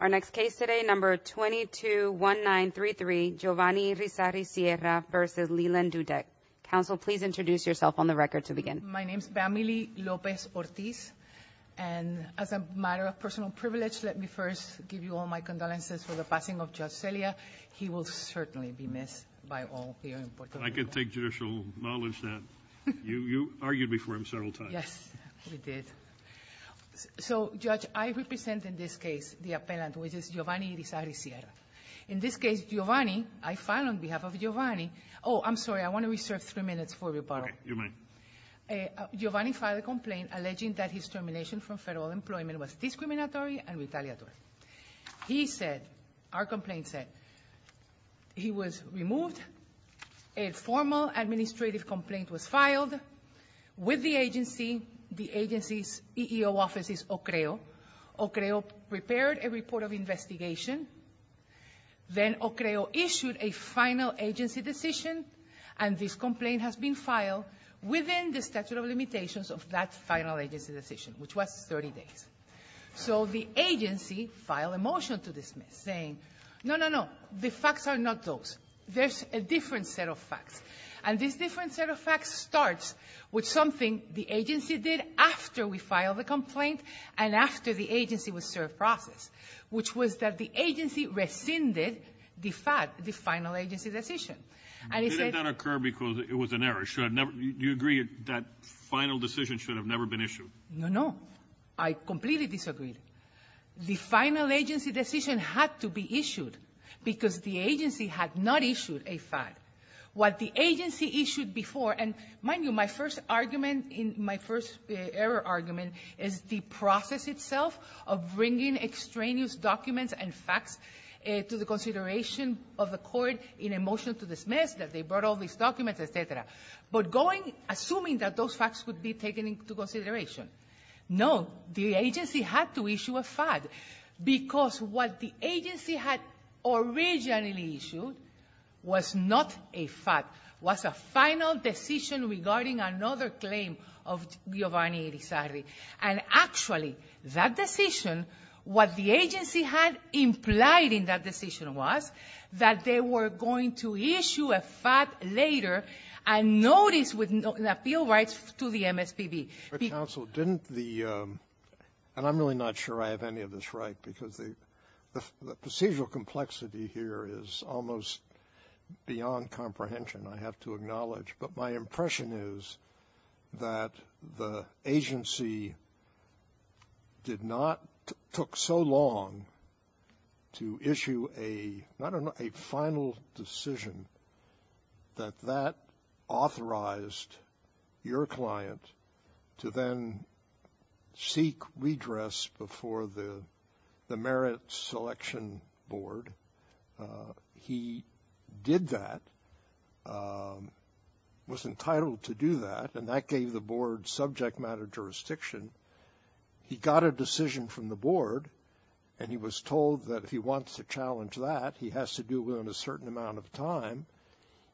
Our next case today number 221933 Giovanni Rizarry Sierra v. Leland Dudek. Counsel, please introduce yourself on the record to begin. My name is Bamily Lopez-Ortiz and as a matter of personal privilege let me first give you all my condolences for the passing of Judge Celia. He will certainly be missed by all. I can take judicial knowledge that you argued before him several times. Yes, he did. So Judge, I represent in this case the appellant which is Giovanni Rizarry Sierra. In this case Giovanni, I file on behalf of Giovanni, oh I'm sorry I want to reserve three minutes for rebuttal. Giovanni filed a complaint alleging that his termination from federal employment was discriminatory and retaliatory. He said, our complaint said, he was removed, a formal administrative complaint was filed with the agency. The agency's EEO office is OCREO. OCREO prepared a report of investigation. Then OCREO issued a final agency decision and this complaint has been filed within the statute of limitations of that final agency decision which was 30 days. So the agency filed a motion to dismiss saying, no, no, no, the facts are not those. There's a different set of facts and this different set of facts starts with something the agency did after we filed the complaint and after the agency was served process, which was that the agency rescinded the fact, the final agency decision. Did it not occur because it was an error? Do you agree that final decision should have never been issued? No, no. I completely disagree. The final agency decision had to be issued because the agency had not issued a fact. What the agency issued before, and mind you, my first argument in my first error argument is the process itself of bringing extraneous documents and facts to the consideration of the court in a motion to dismiss, that they brought all these documents, et cetera. But going, assuming that those facts would be taken into consideration, no, the agency had to issue a fact because what the agency had originally issued was not a fact. It was a final decision regarding another claim of Giovanni Erizagri. And actually, that decision, what the agency had implied in that decision was that they were going to issue a fact later and notice with appeal rights to the MSPB. But counsel, didn't the, and I'm really not sure I have any of this right, because the procedural complexity here is almost beyond comprehension, I have to acknowledge. But my impression is that the agency did not, took so long to issue a, I don't know, a final decision that that authorized your client to then seek redress before the Merit Selection Board. He did that, was entitled to do that, and that gave the board subject matter jurisdiction. He got a decision from the board, and he was told that if he wants to challenge that, he has to do it within a certain amount of time.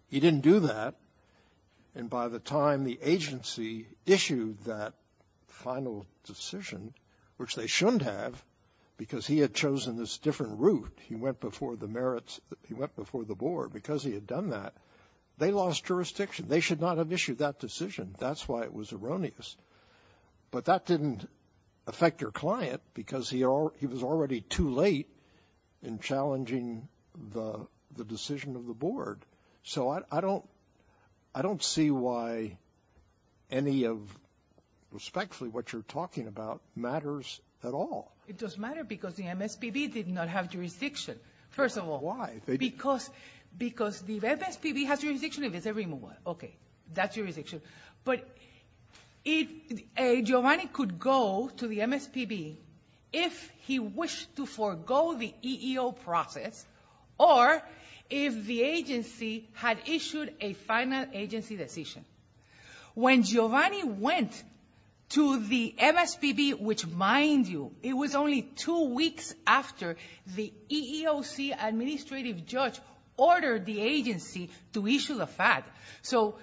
He didn't do that, and by the time the agency issued that final decision, which they shouldn't have because he had chosen this different route, he went before the merits, he went before the board because he had done that, they lost jurisdiction. They should not have issued that decision. That's why it was erroneous. But that didn't affect your client because he was already too late in challenging the decision of the board. So I don't, I don't see why any of, respectfully, what you're talking about matters at all. It does matter because the MSPB did not have jurisdiction, first of all. Because the MSPB has jurisdiction if it's a removal. Okay, that's jurisdiction. But if Giovanni could go to the MSPB if he wished to forego the EEO process, or if the agency had issued a final agency decision. When Giovanni went to the MSPB, which, mind you, it was only two weeks after the EEOC administrative judge ordered the agency to issue the fact. So,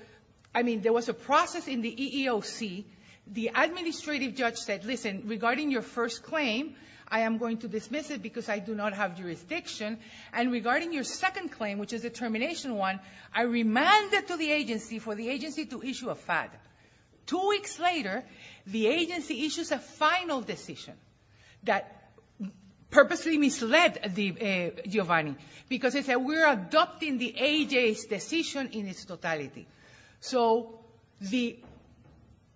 I mean, there was a process in the EEOC. The administrative judge said, listen, regarding your first claim, I am going to issue your second claim, which is the termination one. I remanded to the agency for the agency to issue a FAD. Two weeks later, the agency issues a final decision that purposely misled Giovanni because it said we're adopting the agency's decision in its totality. So the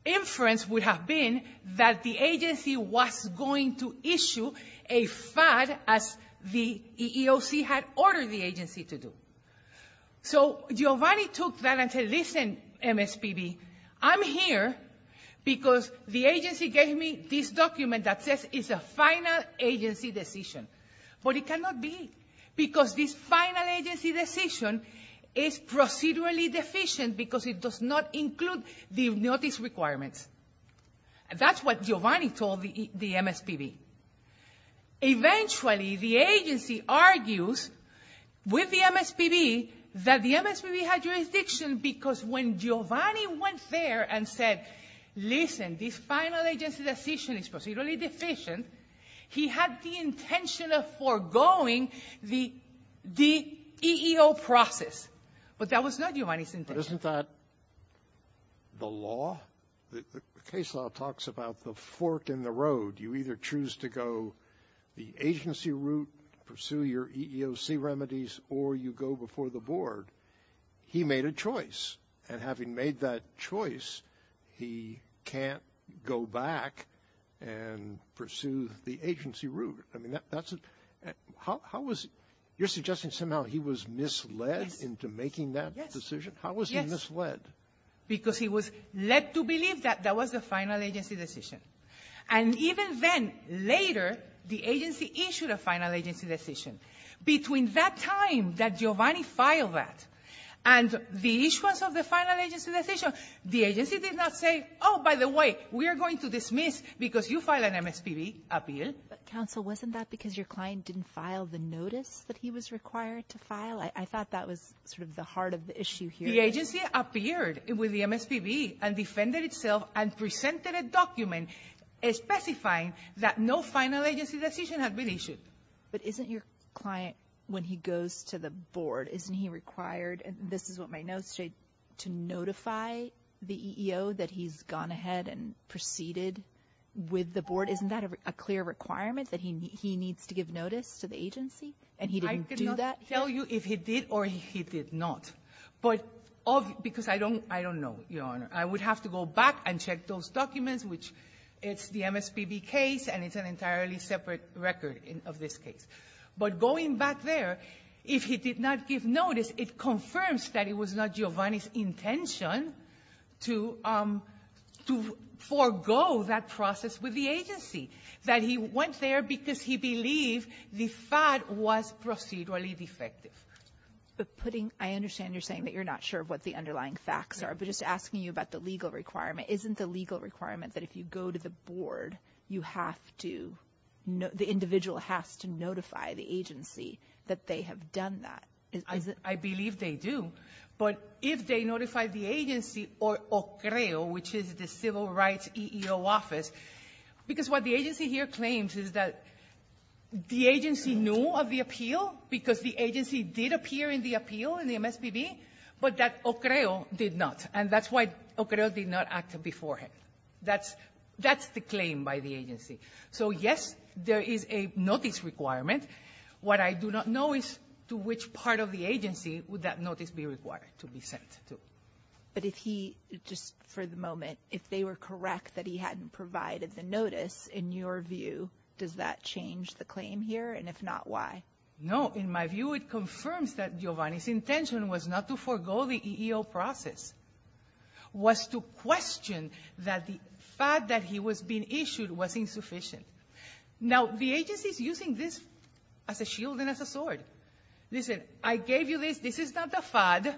inference would have been that the agency was going to issue a FAD as the EEOC had ordered the agency to do. So Giovanni took that and said, listen, MSPB, I'm here because the agency gave me this document that says it's a final agency decision. But it cannot be because this final agency decision is procedurally deficient because it does not include the notice requirements. And that's what Giovanni told the MSPB. Eventually, the agency argues with the MSPB that the MSPB had jurisdiction because when Giovanni went there and said, listen, this final agency decision is procedurally deficient, he had the intention of foregoing the EEO process. But that was not Giovanni's intention. But isn't that the law? The case law talks about the fork in the road. You either choose to go the agency route, pursue your EEOC remedies, or you go before the board. He made a choice. And having made that choice, he can't go back and pursue the agency route. I mean, that's a — how was — you're suggesting somehow he was misled into making that decision? How was he misled? Yes. Because he was led to believe that that was the final agency decision. And even then, later, the agency issued a final agency decision. Between that time that Giovanni filed that and the issuance of the final agency decision, the agency did not say, oh, by the way, we are going to dismiss because you filed an MSPB appeal. But, counsel, wasn't that because your client didn't file the notice that he was required to file? I thought that was sort of the heart of the issue here. The agency appeared with the MSPB and defended itself and presented a document specifying that no final agency decision had been issued. But isn't your client, when he goes to the board, isn't he required — and this is what my question was — to notify the EEO that he's gone ahead and proceeded with the board? Isn't that a clear requirement that he needs to give notice to the agency and he didn't do that? I could not tell you if he did or he did not. But — because I don't know, Your Honor. I would have to go back and check those documents, which it's the MSPB case and it's an entirely separate record of this case. But going back there, if he did not give notice, it confirms that it was not Giovanni's intention to — to forego that process with the agency, that he went there because he believed the FAD was procedurally defective. But putting — I understand you're saying that you're not sure what the underlying facts are, but just asking you about the legal requirement, isn't the legal requirement that if you go to the board, you have to — the individual has to notify the agency that they have done that? I believe they do. But if they notify the agency or OCREO, which is the Civil Rights EEO office — because what the agency here claims is that the agency knew of the appeal because the agency did appear in the appeal in the MSPB, but that OCREO did not. And that's why OCREO did not act beforehand. That's — that's the claim by the agency. So yes, there is a notice requirement. What I do not know is to which part of the agency would that notice be required to be sent to. But if he — just for the moment, if they were correct that he hadn't provided the notice, in your view, does that change the claim here? And if not, why? No. In my view, it confirms that Giovanni's intention was not to forego the EEO process, was to question that the FAD that he was being issued was insufficient. Now, the agency is using this as a shield and as a sword. Listen, I gave you this. This is not the FAD.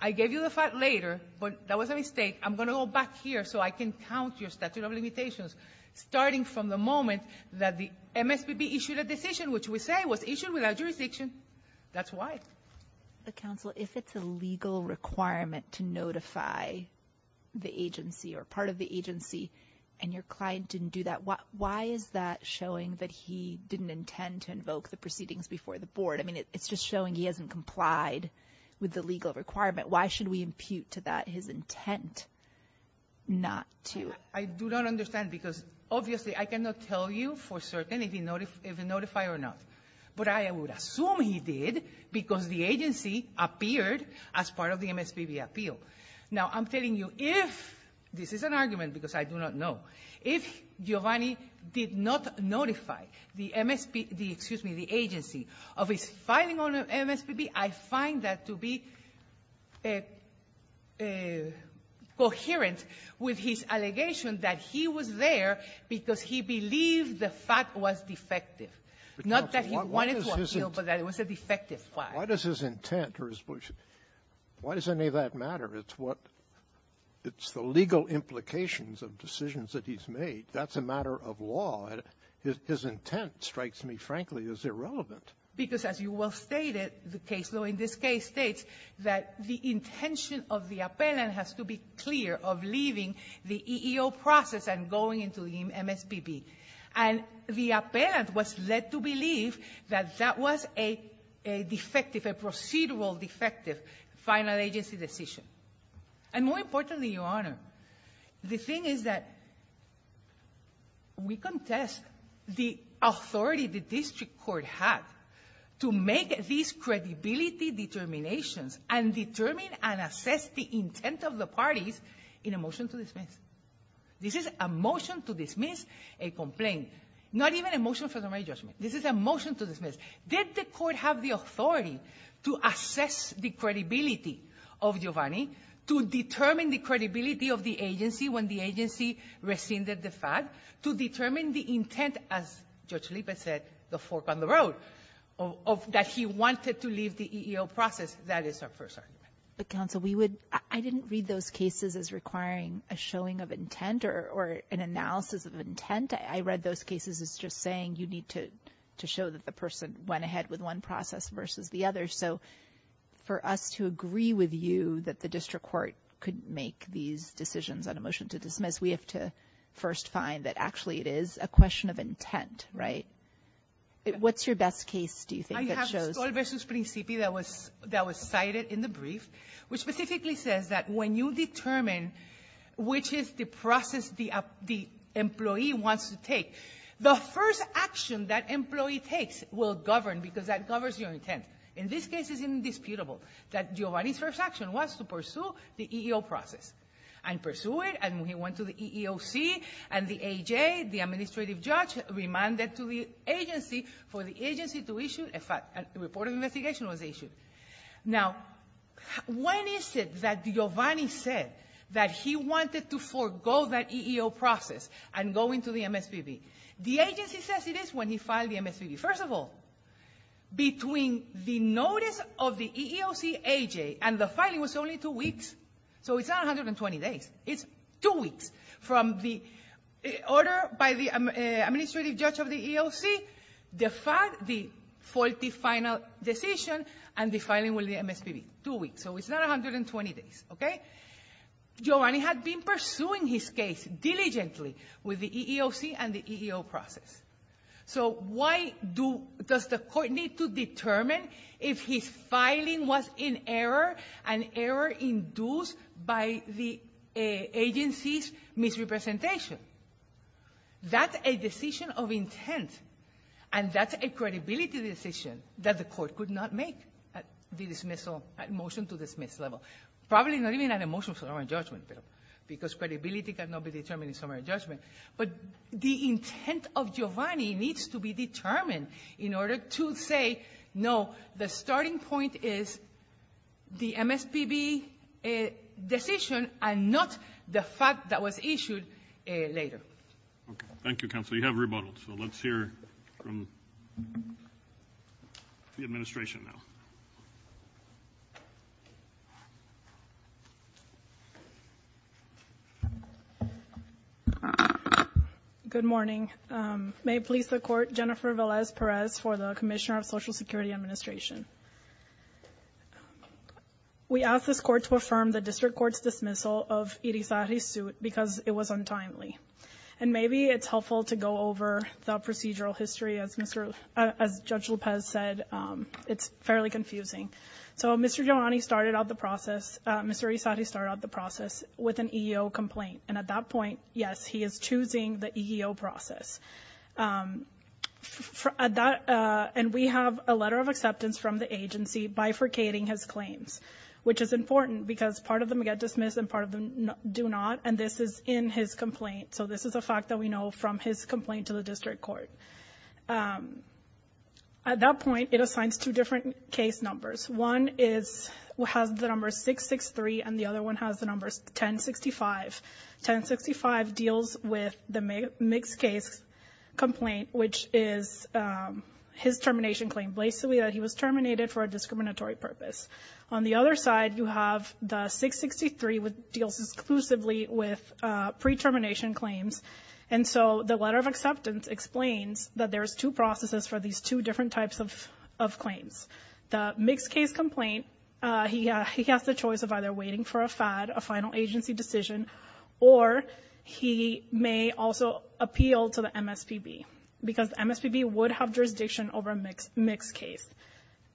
I gave you the FAD later, but that was a mistake. I'm going to go back here so I can count your statute of limitations, starting from the moment that the MSPB issued a decision, which we say was issued without jurisdiction. That's why. Counsel, if it's a legal requirement to notify the agency or part of the agency and your client didn't do that, why is that showing that he didn't intend to invoke the proceedings before the board? I mean, it's just showing he hasn't complied with the legal requirement. Why should we impute to that his intent not to? I do not understand because, obviously, I cannot tell you for certain if he notified or not. But I would assume he did because the agency appeared as part of the MSPB appeal. Now, I'm telling you if, this is an argument because I do not know, if Giovanni did not notify the MSPB, excuse me, the agency of his filing on MSPB, I find that to be coherent with his allegation that he was there because he believed the FAD was defective. Not that he wanted to appeal, but that it was a defective file. Why does his intent or his voice, why does any of that matter? It's what, it's the legal implications of decisions that he's made. That's a matter of law. His intent, strikes me, frankly, is irrelevant. Because, as you well stated, the case law in this case states that the intention of the appellant has to be clear of leaving the EEO process and going into the MSPB. And the appellant was led to believe that that was a defective, a procedural defective final agency decision. And more importantly, Your Honor, the thing is that we contest the authority the district court had to make these credibility determinations and determine and assess the intent of the parties in a motion to complain. Not even a motion for the right judgment. This is a motion to dismiss. Did the court have the authority to assess the credibility of Giovanni, to determine the credibility of the agency when the agency rescinded the FAD, to determine the intent, as Judge Lipet said, the fork on the road, of that he wanted to leave the EEO process? That is our first argument. But, counsel, we would, I didn't read those cases as requiring a showing of intent or an analysis of intent. I read those cases as just saying you need to show that the person went ahead with one process versus the other. So for us to agree with you that the district court could make these decisions on a motion to dismiss, we have to first find that actually it is a question of intent, right? What's your best case do you think that shows? That was cited in the brief, which specifically says that when you determine which is the process the employee wants to take, the first action that employee takes will govern, because that governs your intent. In this case, it's indisputable that Giovanni's first action was to pursue the EEO process. And pursue it, and he went to the EEOC, and the AJ, the administrative judge, remanded to the agency for the agency to issue a report of investigation was issued. Now, when is it that Giovanni said that he wanted to forego that EEO process and go into the MSPB? The agency says it is when he filed the MSPB. First of all, between the notice of the EEOC AJ, and the filing was only two weeks, so it's not 120 days, it's two weeks, from the order by the administrative judge of the EEOC, the faulty final decision, and the filing with the MSPB. Two weeks, so it's not 120 days, okay? Giovanni had been pursuing his case diligently with the EEOC and the EEO process. So why does the court need to determine if his filing was in error, an error induced by the agency's misrepresentation? That's a decision of intent, and that's a credibility decision that the court could not make at the dismissal, at motion to dismiss level. Probably not even at a motion for summary judgment, because credibility cannot be determined in summary judgment. But the intent of Giovanni needs to be determined in order to say, no, the starting point is the MSPB decision, and not the fact that was issued later. Okay, thank you, counsel. You have rebuttal, so let's hear from the administration now. Good morning. May it please the court, Jennifer Velez Perez for the Commissioner of Social Security Administration. We ask this court to affirm the district court's decision to dismiss Giovanni's case untimely. And maybe it's helpful to go over the procedural history, as Judge Lopez said, it's fairly confusing. So Mr. Giovanni started out the process, Mr. Risati started out the process with an EEO complaint, and at that point, yes, he is choosing the EEO process. And we have a letter of acceptance from the agency bifurcating his claims, which is important, because part of them get dismissed and part of them do not, and this is in his complaint. So this is a fact that we know from his complaint to the district court. At that point, it assigns two different case numbers. One has the number 663, and the other one has the number 1065. 1065 deals with the mixed-case complaint, which is his termination claim, basically that he was terminated for a discriminatory purpose. On the other side, you have the 663, which deals exclusively with pre-termination claims. And so the letter of acceptance explains that there's two processes for these two different types of claims. The mixed-case complaint, he has the choice of either waiting for a FAD, a final agency decision, or he may also appeal to the MSPB, because the MSPB would have jurisdiction over a mixed case.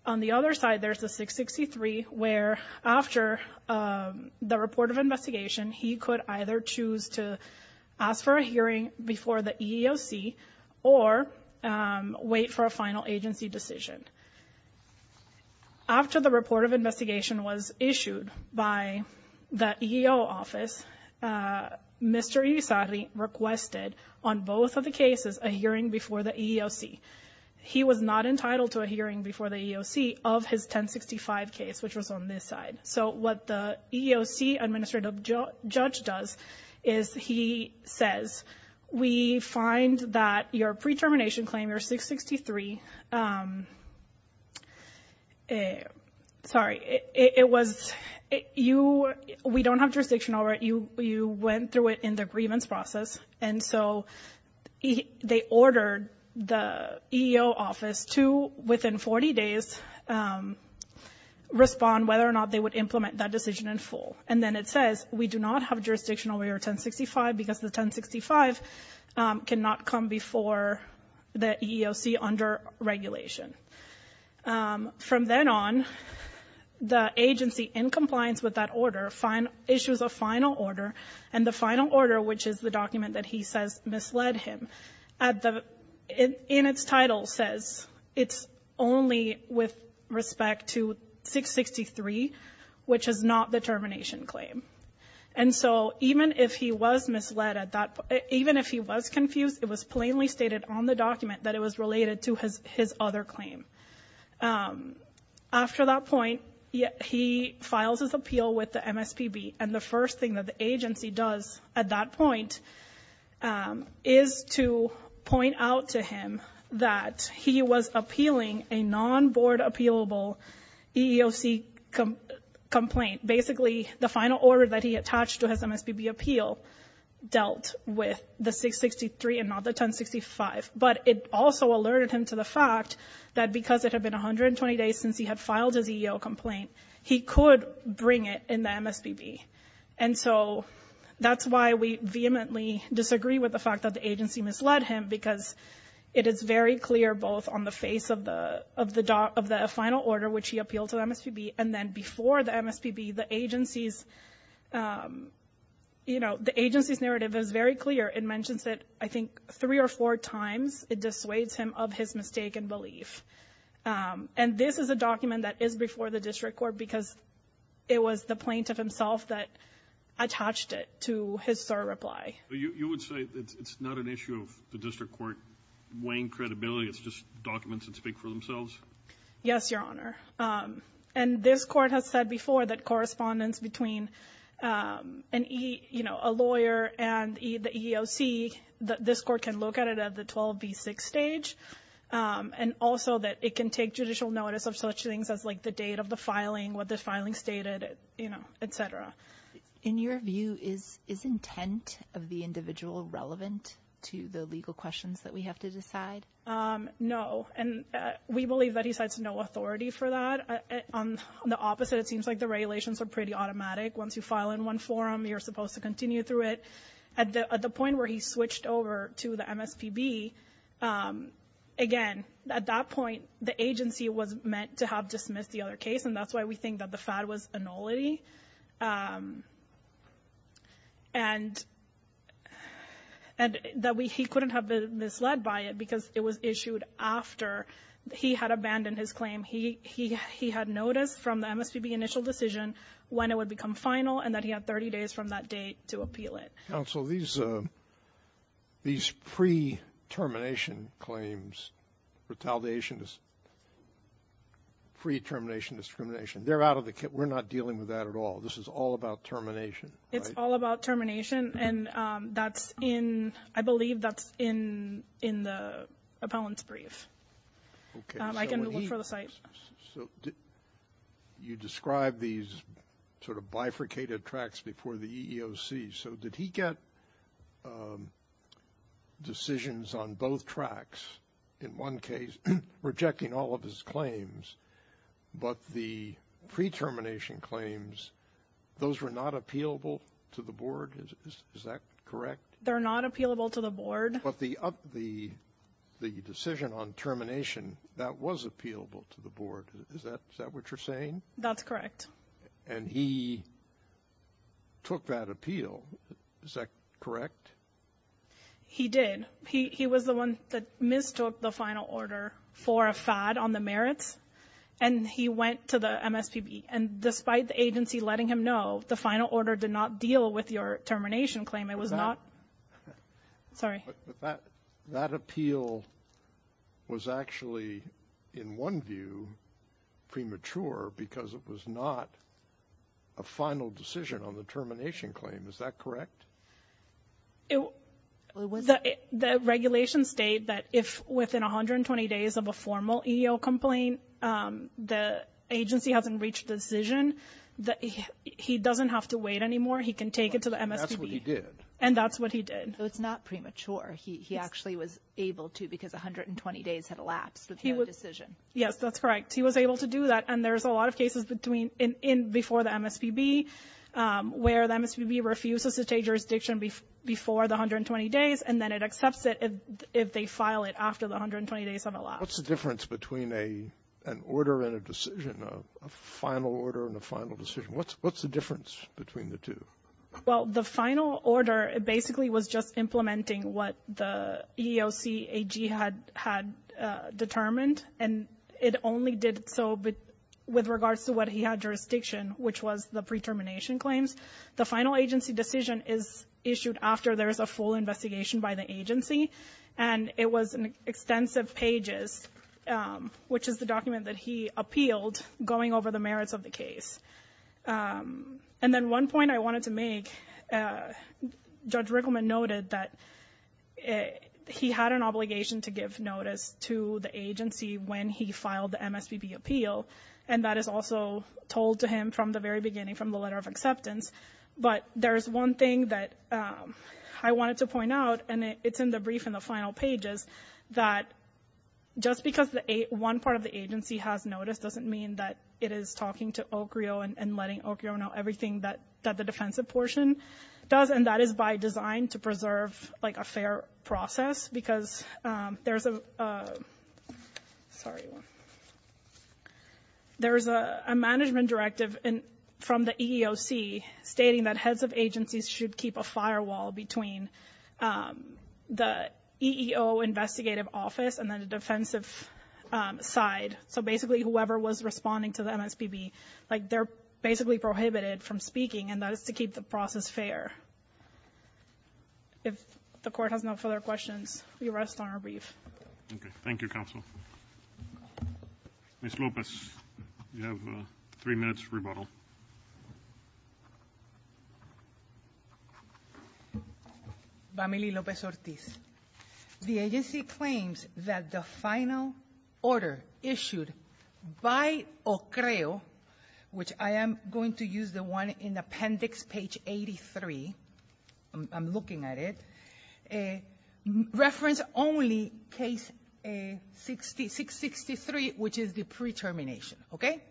On the other side, there's the 663, where, after the report of investigation, he could either choose to ask for a hearing before the EEOC or wait for a final agency decision. After the report of investigation was issued by the EEO office, Mr. Isari requested on both of the cases a hearing before the EEOC. He was not entitled to a hearing before the EEOC of his 1065 case, which was on this side. So what the EEOC administrative judge does is he says, we find that your pre-termination claim, your 663, sorry, it was, you, we don't have jurisdiction over it. You went through it in the grievance process. And so they ordered the EEO office to, within 40 days, respond whether or not they would implement that decision in full. And then it says, we do not have jurisdiction over your 1065, because the 1065 cannot come before the EEOC under regulation. From then on, the agency in compliance with that order issues a final order, and the final order, which is the document that he says misled him, at the, in its title says, it's not only with respect to 663, which is not the termination claim. And so even if he was misled at that, even if he was confused, it was plainly stated on the document that it was related to his other claim. After that point, he files his appeal with the MSPB, and the first thing that the agency does at that point is to point out to him that he was appealing a non-board appealable EEOC complaint. Basically, the final order that he attached to his MSPB appeal dealt with the 663 and not the 1065. But it also alerted him to the fact that because it had been 120 days since he had filed his EEO complaint, he could bring it in the MSPB. And so that's why we vehemently disagree with the fact that the agency misled him, because it is very clear, both on the face of the final order, which he appealed to the MSPB, and then before the MSPB, the agency's, you know, the agency's narrative is very clear. It mentions it, I think, three or four times. It dissuades him of his mistake and belief. And this is a document that is before the district court, because it was the plaintiff himself that attached it to his SIR reply. Yes, Your Honor. And this court has said before that correspondence between a lawyer and the EEOC, this court can look at it at the 12B6 stage, and also that it can take judicial notice of such things as, like, the date of the filing, what was the date of the filing, et cetera. In your view, is intent of the individual relevant to the legal questions that we have to decide? No. And we believe that he cites no authority for that. On the opposite, it seems like the regulations are pretty automatic. Once you file in one form, you're supposed to continue through it. At the point where he switched over to the MSPB, again, at that point, the agency was aware of everything, that the FAD was a nullity, and that he couldn't have been misled by it, because it was issued after he had abandoned his claim. He had noticed from the MSPB initial decision when it would become final, and that he had 30 days from that date to appeal it. Counsel, these pre-termination claims, retaliation, pre-termination discrimination, they're out of the kit. We're not dealing with that at all. This is all about termination, right? It's all about termination, and that's in, I believe that's in the appellant's brief. I can look for the site. You describe these sort of bifurcated tracks before the EEOC. So did he get decisions on both tracks, in one case, rejecting all of his claims, but the pre-termination claims, those were not appealable to the board? Is that correct? They're not appealable to the board. But the decision on termination, that was appealable to the board. Is that what you're saying? That's correct. And he took that appeal. Is that correct? He did. He was the one that mistook the final order for a fad on the merits, and he went to the MSPB. And despite the agency letting him know, the final order did not deal with your termination claim. It was not... But that appeal was actually, in one view, premature, because it was not a final decision on the termination claim. Is that correct? The regulations state that if within 120 days of a formal EEOC complaint, the agency hasn't reached a decision, that he doesn't have to wait anymore. He can take it to the MSPB. And that's what he did. Yes, that's correct. He was able to do that, and there's a lot of cases before the MSPB, where the MSPB refuses to take jurisdiction before the 120 days, and then it accepts it if they file it after the 120 days have elapsed. What's the difference between an order and a decision, a final order and a final decision? What's the difference between the two? Well, the final order basically was just implementing what the EEOC AG had determined, and it only did so with regards to what he had jurisdiction, which was the pre-termination claims. The final agency decision is issued after there is a full investigation by the agency, and it was extensive pages, which is the document that he appealed, going over the merits of the case. And then one point I wanted to make, Judge Rickleman noted that he had an obligation to give notice to the agency when he filed the MSPB appeal, and that is also told to him from the very beginning, from the letter of acceptance. But there's one thing that I wanted to point out, and it's in the brief in the final pages, that just because one part of the agency has noticed doesn't mean that it is talking to Ocreo and letting Ocreo know everything that the defensive portion does, and that is by design to preserve a fair process, because there's a management directive from the EEOC stating that heads of agencies should keep a firewall between the EEOC investigative office and the defensive side. So basically whoever was responding to the MSPB, they're basically prohibited from speaking, and that is to keep the process fair. If the court has no further questions, we rest on our brief. Ms. Lopez, you have three minutes to rebuttal. Vamily Lopez-Ortiz, the agency claims that the final order issued by Ocreo, which I am going to use the one in appendix page 83, I'm looking at it, reference only case 663, which is the pre-termination, okay?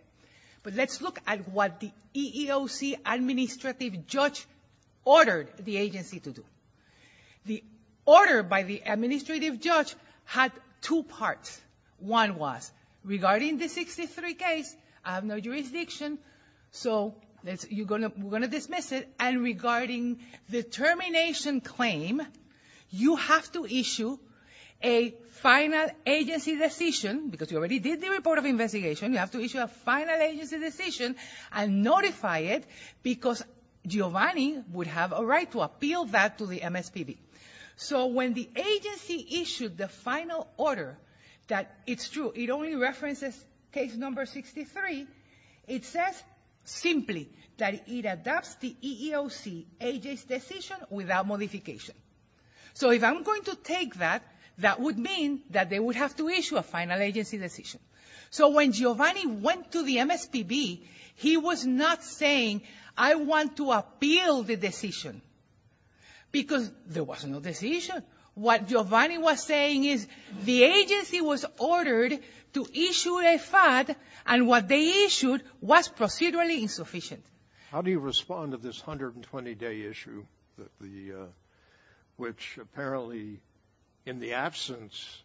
But let's look at what the EEOC administrative judge ordered the agency to do. The order by the administrative judge had two parts. One was regarding the 63 case, I have no jurisdiction, so we're going to dismiss it, and regarding the termination claim, you have to issue a final agency decision, because you already did the report of investigation, you have to issue a final agency decision and notify it, because Giovanni would have a right to appeal that to the MSPB. So when the agency issued the final order, that it's true, it only references case number 63, it says simply that it adopts the EEOC agency decision without modification. So if I'm going to take that, that would mean that they would have to issue a final agency decision. So when Giovanni went to the MSPB, he was not saying, I want to appeal the decision, because there was no decision. What Giovanni was saying is the agency was ordered to issue a FAD, and what they issued was procedurally insufficient. How do you respond to this 120-day issue, which apparently in the absence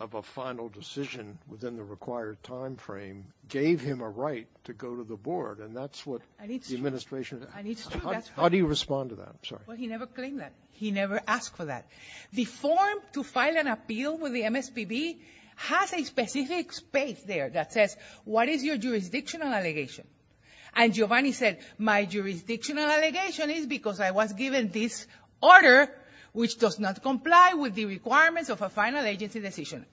of a final decision within the requirement timeframe, gave him a right to go to the board, and that's what the administration, how do you respond to that? Well, he never claimed that. He never asked for that. The form to file an appeal with the MSPB has a specific space there that says, what is your jurisdictional allegation? And Giovanni said, my jurisdictional allegation is because I was given this order, which does not comply with the requirements of a final agency decision.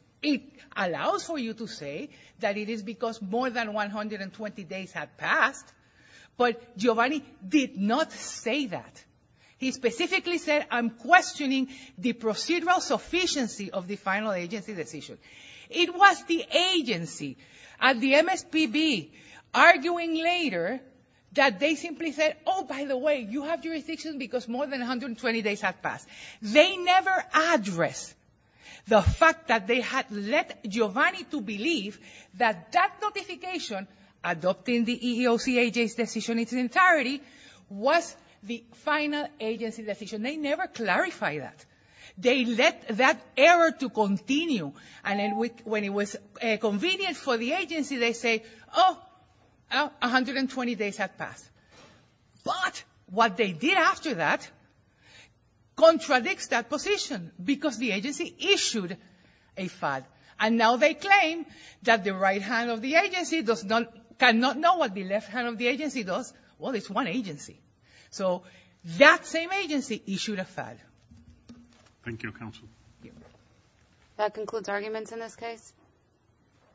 Obviously, that it is because more than 120 days have passed, but Giovanni did not say that. He specifically said, I'm questioning the procedural sufficiency of the final agency decision. It was the agency at the MSPB arguing later that they simply said, oh, by the way, you have jurisdiction because more than 120 days have passed. They never addressed the fact that they had led Giovanni to believe that that notification, adopting the EEOC agency decision in its entirety, was the final agency decision. They never clarified that. They let that error to continue, and then when it was convenient for the agency, they say, oh, 120 days have passed. But what they did after that contradicts that position, because the agency issued a FAD. And now they claim that the right hand of the agency does not, cannot know what the left hand of the agency does. Well, it's one agency. So that same agency issued a FAD.